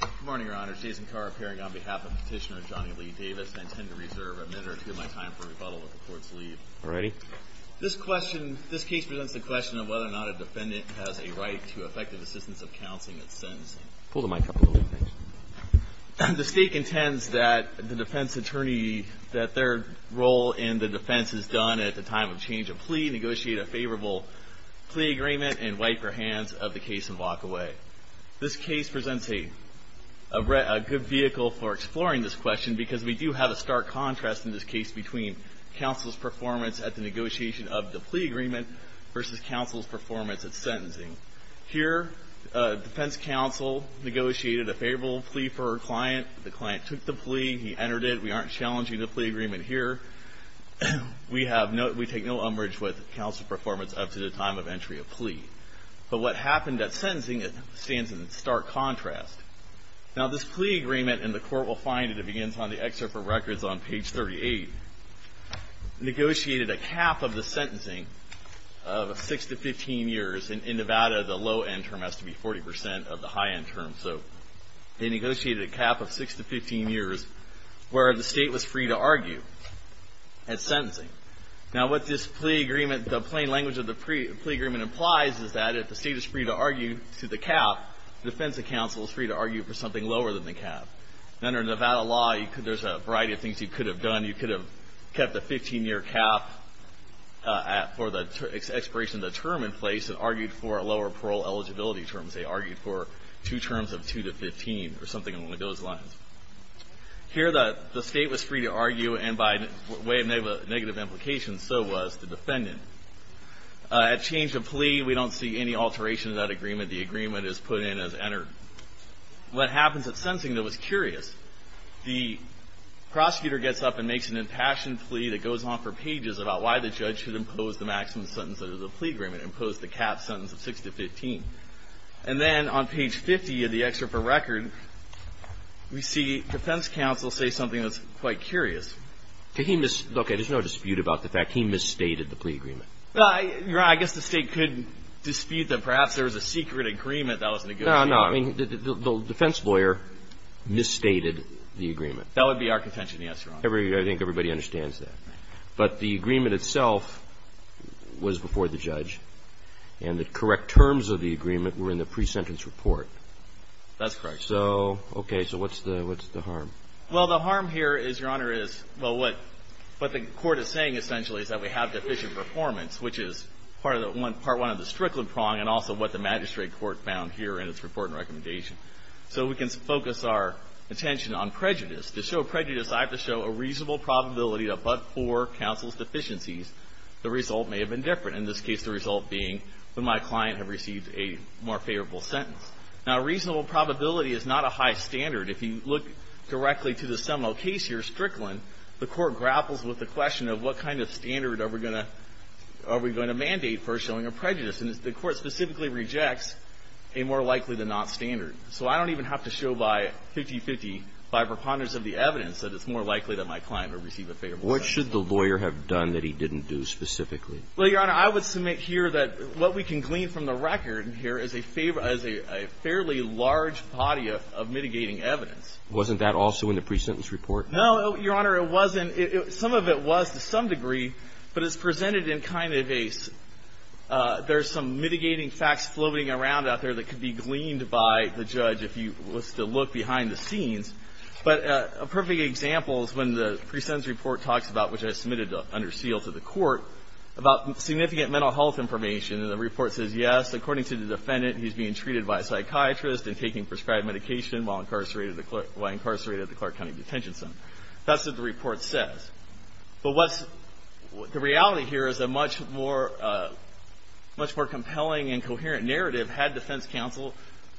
Good morning, Your Honor. Jason Carr appearing on behalf of Petitioner Johnny Lee Davis. I intend to reserve a minute or two of my time for rebuttal if the courts leave. Alrighty. This case presents the question of whether or not a defendant has a right to effective assistance of counsel in its sentencing. Pull the mic up a little bit. Thanks. The stake intends that the defense attorney, that their role in the defense is done at the time of change of plea, negotiate a favorable plea agreement, and wipe her hands of the case and walk away. This case presents a good vehicle for exploring this question because we do have a stark contrast in this case between counsel's performance at the negotiation of the plea agreement versus counsel's performance at sentencing. Here, defense counsel negotiated a favorable plea for her client. The client took the plea. He entered it. We aren't challenging the plea agreement here. We take no umbrage with counsel's performance up to the time of entry of plea. But what happened at sentencing, it stands in stark contrast. Now, this plea agreement, and the court will find it, it begins on the excerpt from records on page 38, negotiated a cap of the sentencing of 6 to 15 years. In Nevada, the low-end term has to be 40% of the high-end term. So, they negotiated a cap of 6 to 15 years where the state was free to argue at sentencing. Now, what this plea agreement, the plain language of the plea agreement implies is that if the state is free to argue to the cap, defense counsel is free to argue for something lower than the cap. Under Nevada law, there's a variety of things you could have done. You could have kept the 15-year cap for the expiration of the term in place and argued for a lower parole eligibility terms. They argued for two terms of 2 to 15 or something along those lines. Here, the state was free to argue, and by way of negative implications, so was the defendant. At change of plea, we don't see any alteration of that agreement. The agreement is put in as entered. What happens at sentencing, though, is curious. The prosecutor gets up and makes an impassioned plea that goes on for pages about why the judge should impose the maximum sentence under the plea agreement, impose the cap sentence of 6 to 15. And then on page 50 of the excerpt for record, we see defense counsel say something that's quite curious. Okay, there's no dispute about the fact he misstated the plea agreement. Your Honor, I guess the state could dispute that perhaps there was a secret agreement that was negotiated. No, no. I mean, the defense lawyer misstated the agreement. That would be our contention, yes, Your Honor. I think everybody understands that. But the agreement itself was before the judge, and the correct terms of the agreement were in the pre-sentence report. That's correct. So, okay. So what's the harm? Well, the harm here is, Your Honor, is, well, what the Court is saying essentially is that we have deficient performance, which is part of the one, part one of the Strickland prong, and also what the magistrate court found here in its report and recommendation. So we can focus our attention on prejudice. To show prejudice, I have to show a reasonable probability that but for counsel's deficiencies, the result may have been different, in this case, the result being that my client had received a more favorable sentence. Now, a reasonable probability is not a high standard. If you look directly to the Seminole case here, Strickland, the Court grapples with the question of what kind of standard are we going to mandate for showing a prejudice. And the Court specifically rejects a more likely-than-not standard. So I don't even have to show by 50-50, by preponderance of the evidence, that it's more likely that my client would receive a favorable sentence. What should the lawyer have done that he didn't do specifically? Well, Your Honor, I would submit here that what we can glean from the record here is a fairly large body of mitigating evidence. Wasn't that also in the presentence report? No, Your Honor. It wasn't. Some of it was to some degree, but it's presented in kind of a – there's some mitigating facts floating around out there that could be gleaned by the judge if you were to look behind the scenes. But a perfect example is when the presentence report talks about, which I submitted under seal to the Court, about significant mental health information. And the report says, yes, according to the defendant, he's being treated by a psychiatrist and taking prescribed medication while incarcerated at the Clark County Detention Center. That's what the report says. But what's – the reality here is a much more compelling and coherent narrative had defense counsel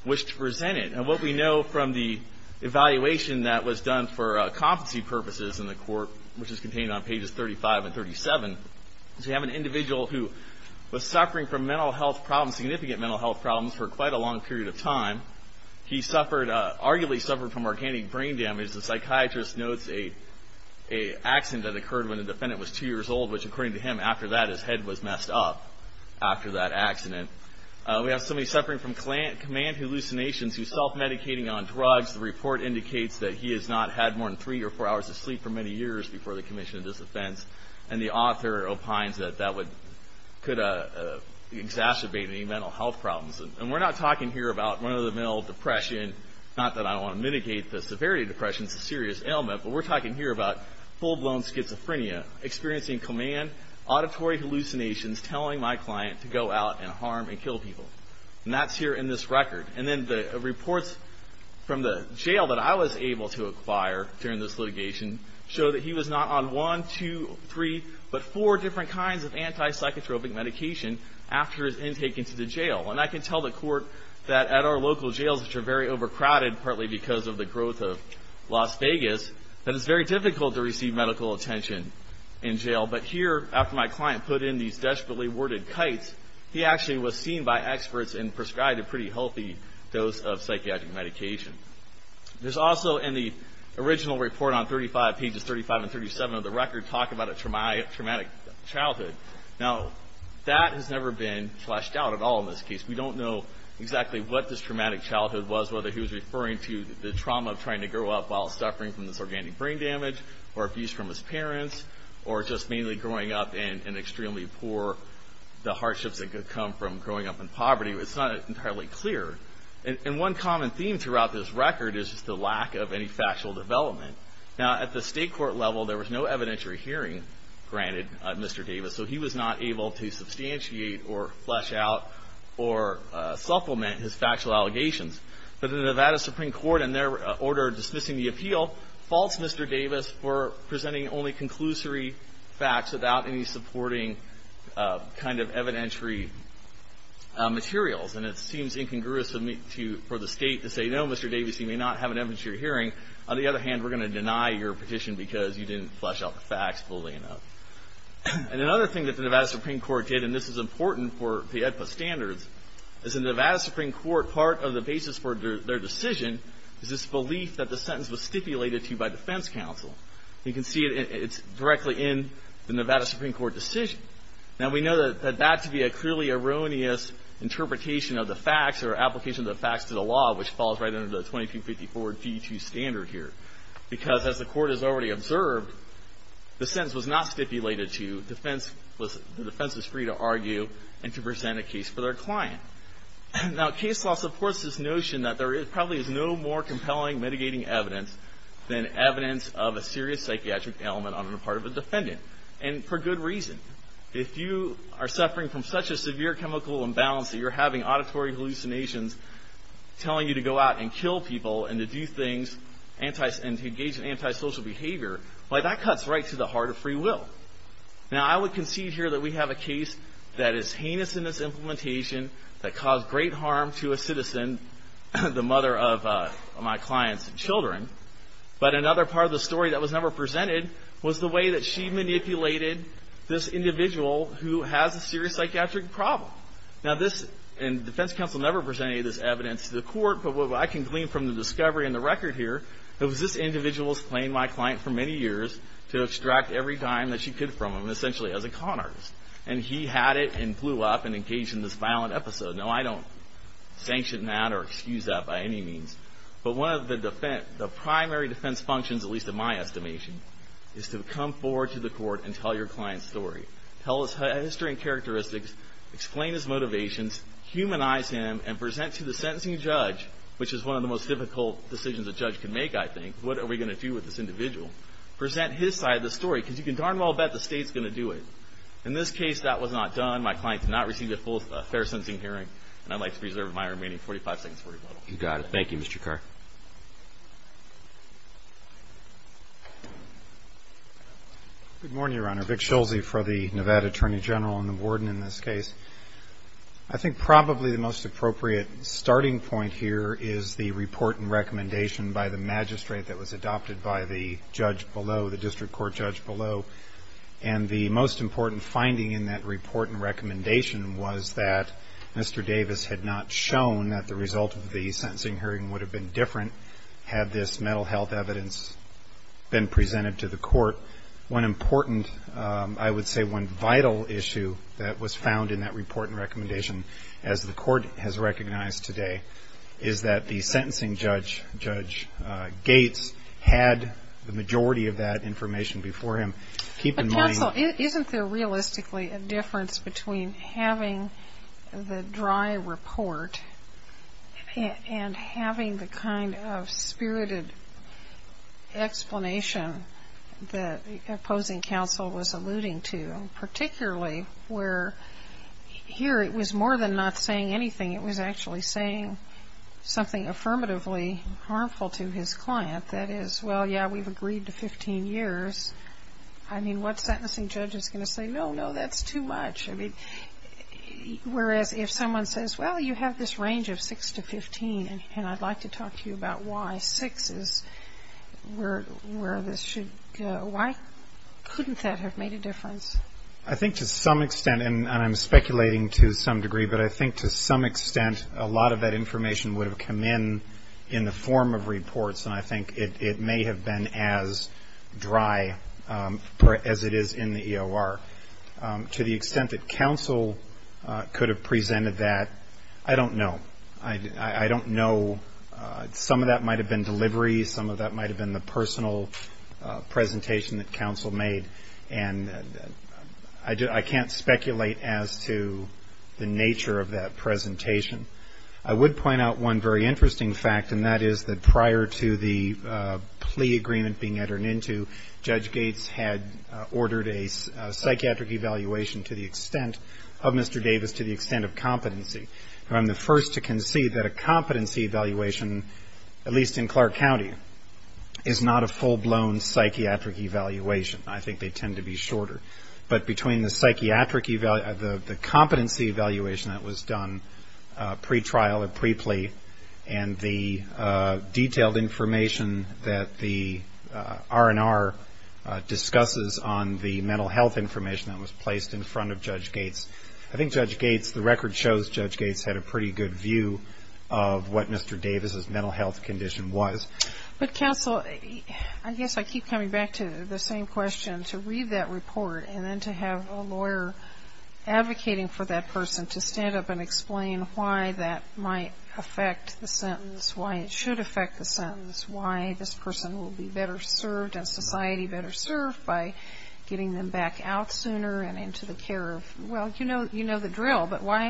wished to present it. And what we know from the evaluation that was done for competency purposes in the court, which is contained on pages 35 and 37, is we have an individual who was suffering from mental health problems, significant mental health problems, for quite a long period of time. He suffered – arguably suffered from organic brain damage. The psychiatrist notes a accident that occurred when the defendant was two years old, which according to him, after that, his head was messed up after that accident. We have somebody suffering from command hallucinations, who's self-medicating on drugs. The report indicates that he has not had more than three or four hours of sleep for many years before the commission of this offense. And the author opines that that would – could exacerbate any mental health problems. And we're not talking here about run-of-the-mill depression. Not that I want to mitigate the severity of depression. It's a serious ailment. But we're talking here about full-blown schizophrenia, experiencing command auditory hallucinations, telling my client to go out and harm and kill people. And that's here in this record. And then the reports from the jail that I was able to acquire during this litigation show that he was not on one, two, three, but four different kinds of antipsychotropic medication after his intake into the jail. And I can tell the court that at our local jails, which are very overcrowded, partly because of the growth of Las Vegas, that it's very difficult to receive medical attention in jail. But here, after my client put in these desperately worded kites, he actually was seen by experts and prescribed a pretty healthy dose of psychiatric medication. There's also in the original report on 35, pages 35 and 37 of the record, talk about a traumatic childhood. Now, that has never been fleshed out at all in this case. We don't know exactly what this traumatic childhood was, whether he was referring to the trauma of trying to grow up while suffering from this organic brain damage, or abuse from his parents, or just mainly growing up in extremely poor, the hardships that could come from growing up in poverty. It's not entirely clear. And one common theme throughout this record is just the lack of any factual development. Now, at the state court level, there was no evidentiary hearing granted, Mr. Davis. So he was not able to substantiate, or flesh out, or supplement his factual allegations. But the Nevada Supreme Court, in their order dismissing the appeal, faults Mr. Davis for presenting only conclusory facts without any supporting kind of evidentiary materials. And it seems incongruous for the state to say, no, Mr. Davis, you may not have an evidentiary hearing. On the other hand, we're going to deny your petition because you didn't flesh out the facts fully enough. And another thing that the Nevada Supreme Court did, and this is important for the EDPA standards, is the Nevada Supreme Court, part of the basis for their decision, is this belief that the sentence was stipulated to you by defense counsel. You can see it's directly in the Nevada Supreme Court decision. Now, we know that that could be a clearly erroneous interpretation of the facts, or application of the facts to the law, which falls right under the 2254-G2 standard here. Because, as the court has already observed, the sentence was not stipulated to you. The defense is free to argue and to present a case for their client. Now, case law supports this notion that there probably is no more compelling mitigating evidence than evidence of a serious psychiatric ailment on the part of a defendant. And for good reason. If you are suffering from such a severe chemical imbalance that you're having auditory hallucinations telling you to go out and kill people and to engage in antisocial behavior, well, that cuts right to the heart of free will. Now, I would concede here that we have a case that is heinous in its implementation, that caused great harm to a citizen, the mother of my client's children. But another part of the story that was never presented was the way that she manipulated this individual who has a serious psychiatric problem. Now, this, and the defense counsel never presented this evidence to the court, but what I can glean from the discovery in the record here, was this individual has claimed my client for many years to extract every dime that she could from him, essentially as a con artist. And he had it and blew up and engaged in this violent episode. Now, I don't sanction that or excuse that by any means. But one of the primary defense functions, at least in my estimation, is to come forward to the court and tell your client's story. Tell his history and characteristics, explain his motivations, humanize him, and present to the sentencing judge, which is one of the most difficult decisions a judge can make, I think. What are we going to do with this individual? Present his side of the story, because you can darn well bet the state's going to do it. In this case, that was not done. My client did not receive a fair sentencing hearing, and I'd like to preserve my remaining 45 seconds for rebuttal. You got it. Thank you, Mr. Carr. Good morning, Your Honor. Vic Schulze for the Nevada Attorney General and the warden in this case. I think probably the most appropriate starting point here is the report and recommendation by the magistrate that was adopted by the judge below, the district court judge below. And the most important finding in that report and recommendation was that Mr. Davis had not shown that the result of the sentencing hearing would have been different. Had this mental health evidence been presented to the court, one important, I would say one vital issue that was found in that report and recommendation, as the court has recognized today, is that the sentencing judge, Judge Gates, had the majority of that information before him. But counsel, isn't there realistically a difference between having the dry report and having the kind of spirited explanation that opposing counsel was alluding to, particularly where here it was more than not saying anything. It was actually saying something affirmatively harmful to his client. That is, well, yeah, we've agreed to 15 years. I mean, what sentencing judge is going to say, no, no, that's too much? I mean, whereas if someone says, well, you have this range of 6 to 15, and I'd like to talk to you about why 6 is where this should go, why couldn't that have made a difference? I think to some extent, and I'm speculating to some degree, but I think to some extent a lot of that information would have come in in the form of reports, and I think it may have been as dry as it is in the EOR. To the extent that counsel could have presented that, I don't know. I don't know. Some of that might have been delivery. Some of that might have been the personal presentation that counsel made. And I can't speculate as to the nature of that presentation. I would point out one very interesting fact, and that is that prior to the plea agreement being entered into, Judge Gates had ordered a psychiatric evaluation of Mr. Davis to the extent of competency. I'm the first to concede that a competency evaluation, at least in Clark County, is not a full-blown psychiatric evaluation. I think they tend to be shorter. But between the competency evaluation that was done pre-trial or pre-plea and the detailed information that the R&R discusses on the mental health information that was placed in front of Judge Gates, I think Judge Gates, the record shows Judge Gates had a pretty good view of what Mr. Davis' mental health condition was. But, counsel, I guess I keep coming back to the same question, to read that report and then to have a lawyer advocating for that person, to stand up and explain why that might affect the sentence, why it should affect the sentence, why this person will be better served and society better served by getting them back out sooner and into the care of, well, you know the drill. But why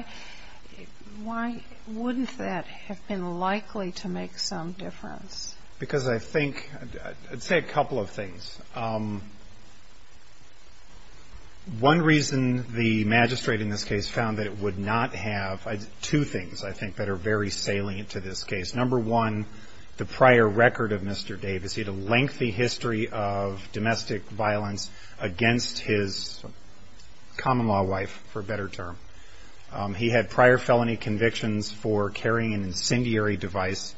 wouldn't that have been likely to make some difference? Because I think, I'd say a couple of things. One reason the magistrate in this case found that it would not have, two things I think that are very salient to this case. Number one, the prior record of Mr. Davis. He had a lengthy history of domestic violence against his common-law wife, for a better term. He had prior felony convictions for carrying an incendiary device.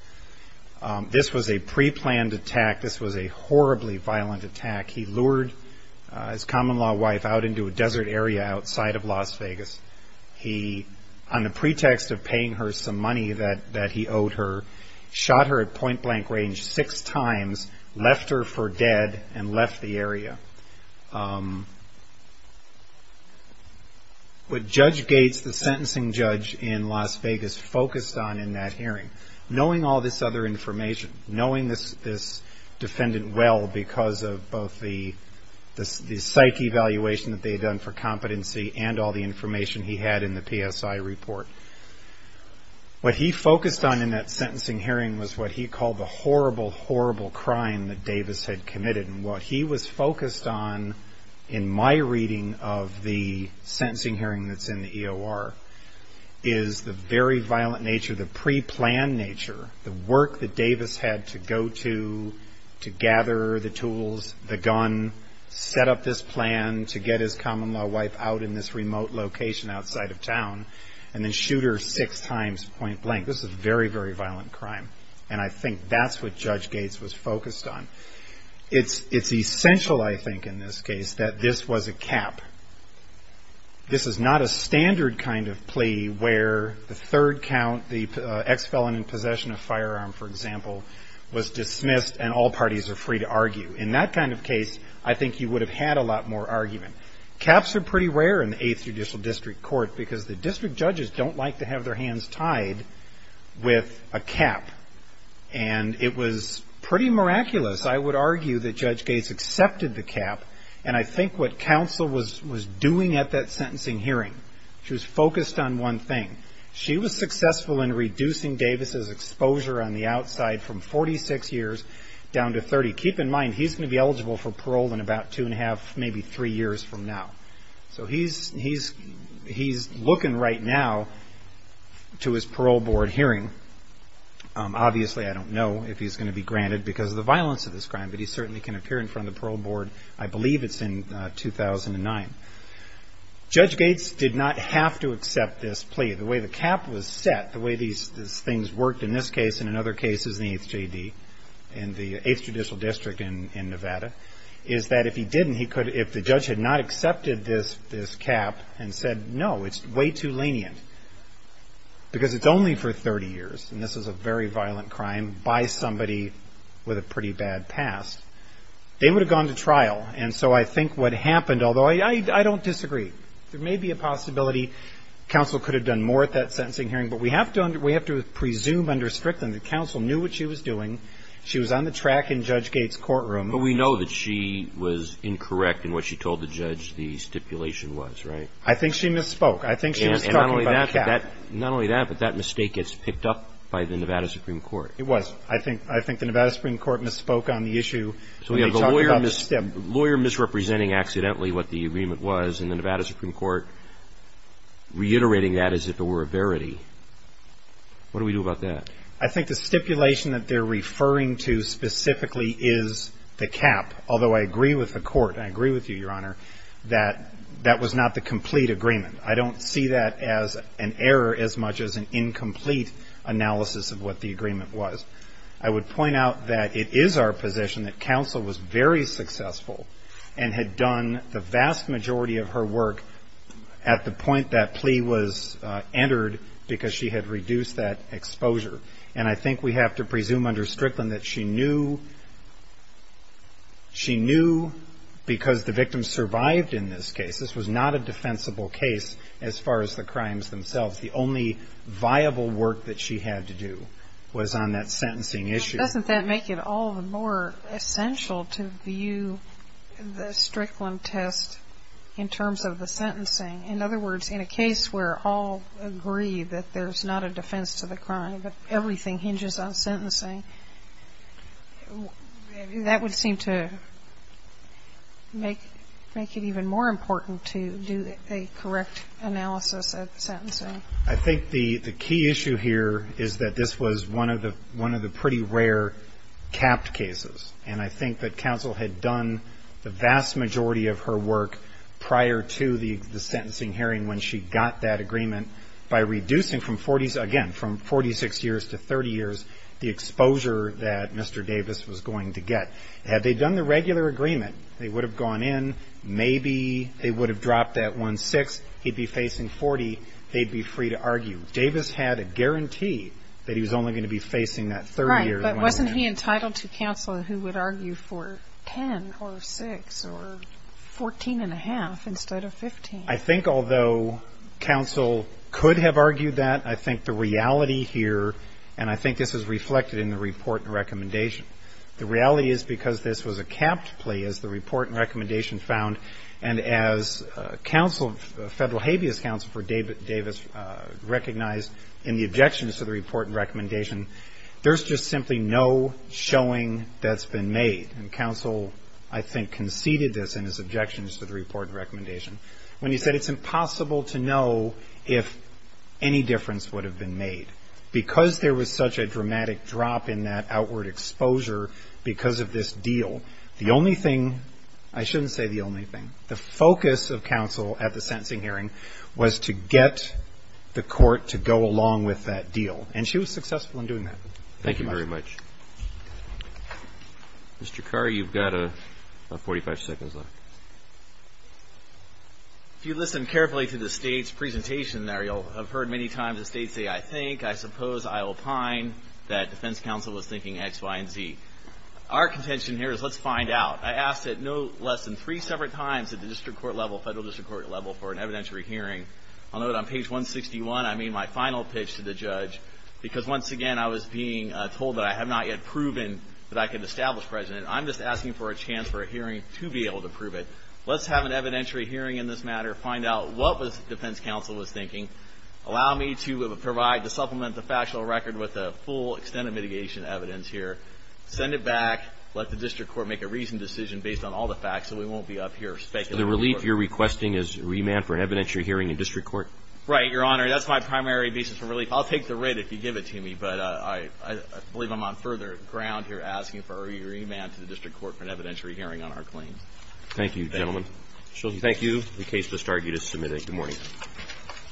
This was a pre-planned attack. This was a horribly violent attack. He lured his common-law wife out into a desert area outside of Las Vegas. He, on the pretext of paying her some money that he owed her, shot her at point-blank range six times, left her for dead and left the area. What Judge Gates, the sentencing judge in Las Vegas, focused on in that hearing, knowing all this other information, knowing this defendant well because of both the psych evaluation that they had done for competency and all the information he had in the PSI report, what he focused on in that sentencing hearing was what he called the horrible, horrible crime that Davis had committed. And what he was focused on in my reading of the sentencing hearing that's in the EOR is the very violent nature, the pre-planned nature, the work that Davis had to go to to gather the tools, the gun, set up this plan to get his common-law wife out in this remote location outside of town, and then shoot her six times point-blank. This is a very, very violent crime, and I think that's what Judge Gates was focused on. It's essential, I think, in this case that this was a cap. This is not a standard kind of plea where the third count, the ex-felon in possession of a firearm, for example, was dismissed and all parties are free to argue. In that kind of case, I think you would have had a lot more argument. Caps are pretty rare in the Eighth Judicial District Court because the district judges don't like to have their hands tied with a cap. And it was pretty miraculous, I would argue, that Judge Gates accepted the cap, and I think what counsel was doing at that sentencing hearing, she was focused on one thing. She was successful in reducing Davis's exposure on the outside from 46 years down to 30. Keep in mind, he's going to be eligible for parole in about two and a half, maybe three years from now. So he's looking right now to his parole board hearing. Obviously, I don't know if he's going to be granted because of the violence of this crime, but he certainly can appear in front of the parole board. I believe it's in 2009. Judge Gates did not have to accept this plea. The way the cap was set, the way these things worked in this case and in other cases in the Eighth J.D., in the Eighth Judicial District in Nevada, is that if he didn't, if the judge had not accepted this cap and said, no, it's way too lenient because it's only for 30 years, and this is a very violent crime by somebody with a pretty bad past, they would have gone to trial. And so I think what happened, although I don't disagree. There may be a possibility counsel could have done more at that sentencing hearing, but we have to presume under Strickland that counsel knew what she was doing. She was on the track in Judge Gates' courtroom. But we know that she was incorrect in what she told the judge the stipulation was, right? I think she misspoke. I think she was talking about the cap. Not only that, but that mistake gets picked up by the Nevada Supreme Court. It was. I think the Nevada Supreme Court misspoke on the issue. So we have a lawyer misrepresenting accidentally what the agreement was in the Nevada Supreme Court, reiterating that as if it were a verity. What do we do about that? I think the stipulation that they're referring to specifically is the cap, although I agree with the court, and I agree with you, Your Honor, that that was not the complete agreement. I don't see that as an error as much as an incomplete analysis of what the agreement was. I would point out that it is our position that counsel was very successful and had done the vast majority of her work at the point that plea was entered because she had reduced that exposure. And I think we have to presume under Strickland that she knew because the victim survived in this case. This was not a defensible case as far as the crimes themselves. The only viable work that she had to do was on that sentencing issue. Doesn't that make it all the more essential to view the Strickland test in terms of the sentencing? In other words, in a case where all agree that there's not a defense to the crime, but everything hinges on sentencing, that would seem to make it even more important to do a correct analysis at the sentencing. I think the key issue here is that this was one of the pretty rare capped cases, and I think that counsel had done the vast majority of her work prior to the sentencing hearing when she got that agreement by reducing, again, from 46 years to 30 years, the exposure that Mr. Davis was going to get. Had they done the regular agreement, they would have gone in, maybe they would have dropped that 1-6, he'd be facing 40, they'd be free to argue. Davis had a guarantee that he was only going to be facing that 30 years. Right, but wasn't he entitled to counsel who would argue for 10 or 6 or 14 1⁄2 instead of 15? I think although counsel could have argued that, I think the reality here, and I think this is reflected in the report and recommendation, the reality is because this was a capped plea, as the report and recommendation found, and as federal habeas counsel for Davis recognized in the objections to the report and recommendation, there's just simply no showing that's been made. And counsel, I think, conceded this in his objections to the report and recommendation. When he said it's impossible to know if any difference would have been made. Because there was such a dramatic drop in that outward exposure because of this deal, the only thing, I shouldn't say the only thing, the focus of counsel at the sentencing hearing was to get the court to go along with that deal. And she was successful in doing that. Thank you very much. Mr. Carr, you've got about 45 seconds left. If you listen carefully to the State's presentation there, you'll have heard many times the State say I think, I suppose, I opine that defense counsel was thinking X, Y, and Z. Our contention here is let's find out. I asked it no less than three separate times at the district court level, federal district court level, for an evidentiary hearing. I'll note on page 161, I made my final pitch to the judge because once again, when I was being told that I had not yet proven that I could establish precedent, I'm just asking for a chance for a hearing to be able to prove it. Let's have an evidentiary hearing in this matter, find out what defense counsel was thinking, allow me to supplement the factual record with the full extent of mitigation evidence here, send it back, let the district court make a reasoned decision based on all the facts so we won't be up here speculating. So the relief you're requesting is remand for an evidentiary hearing in district court? Right, Your Honor, that's my primary basis for relief. I'll take the rate if you give it to me, but I believe I'm on further ground here asking for a remand to the district court for an evidentiary hearing on our claim. Thank you, gentlemen. Thank you. The case was started. You just submitted it. Good morning.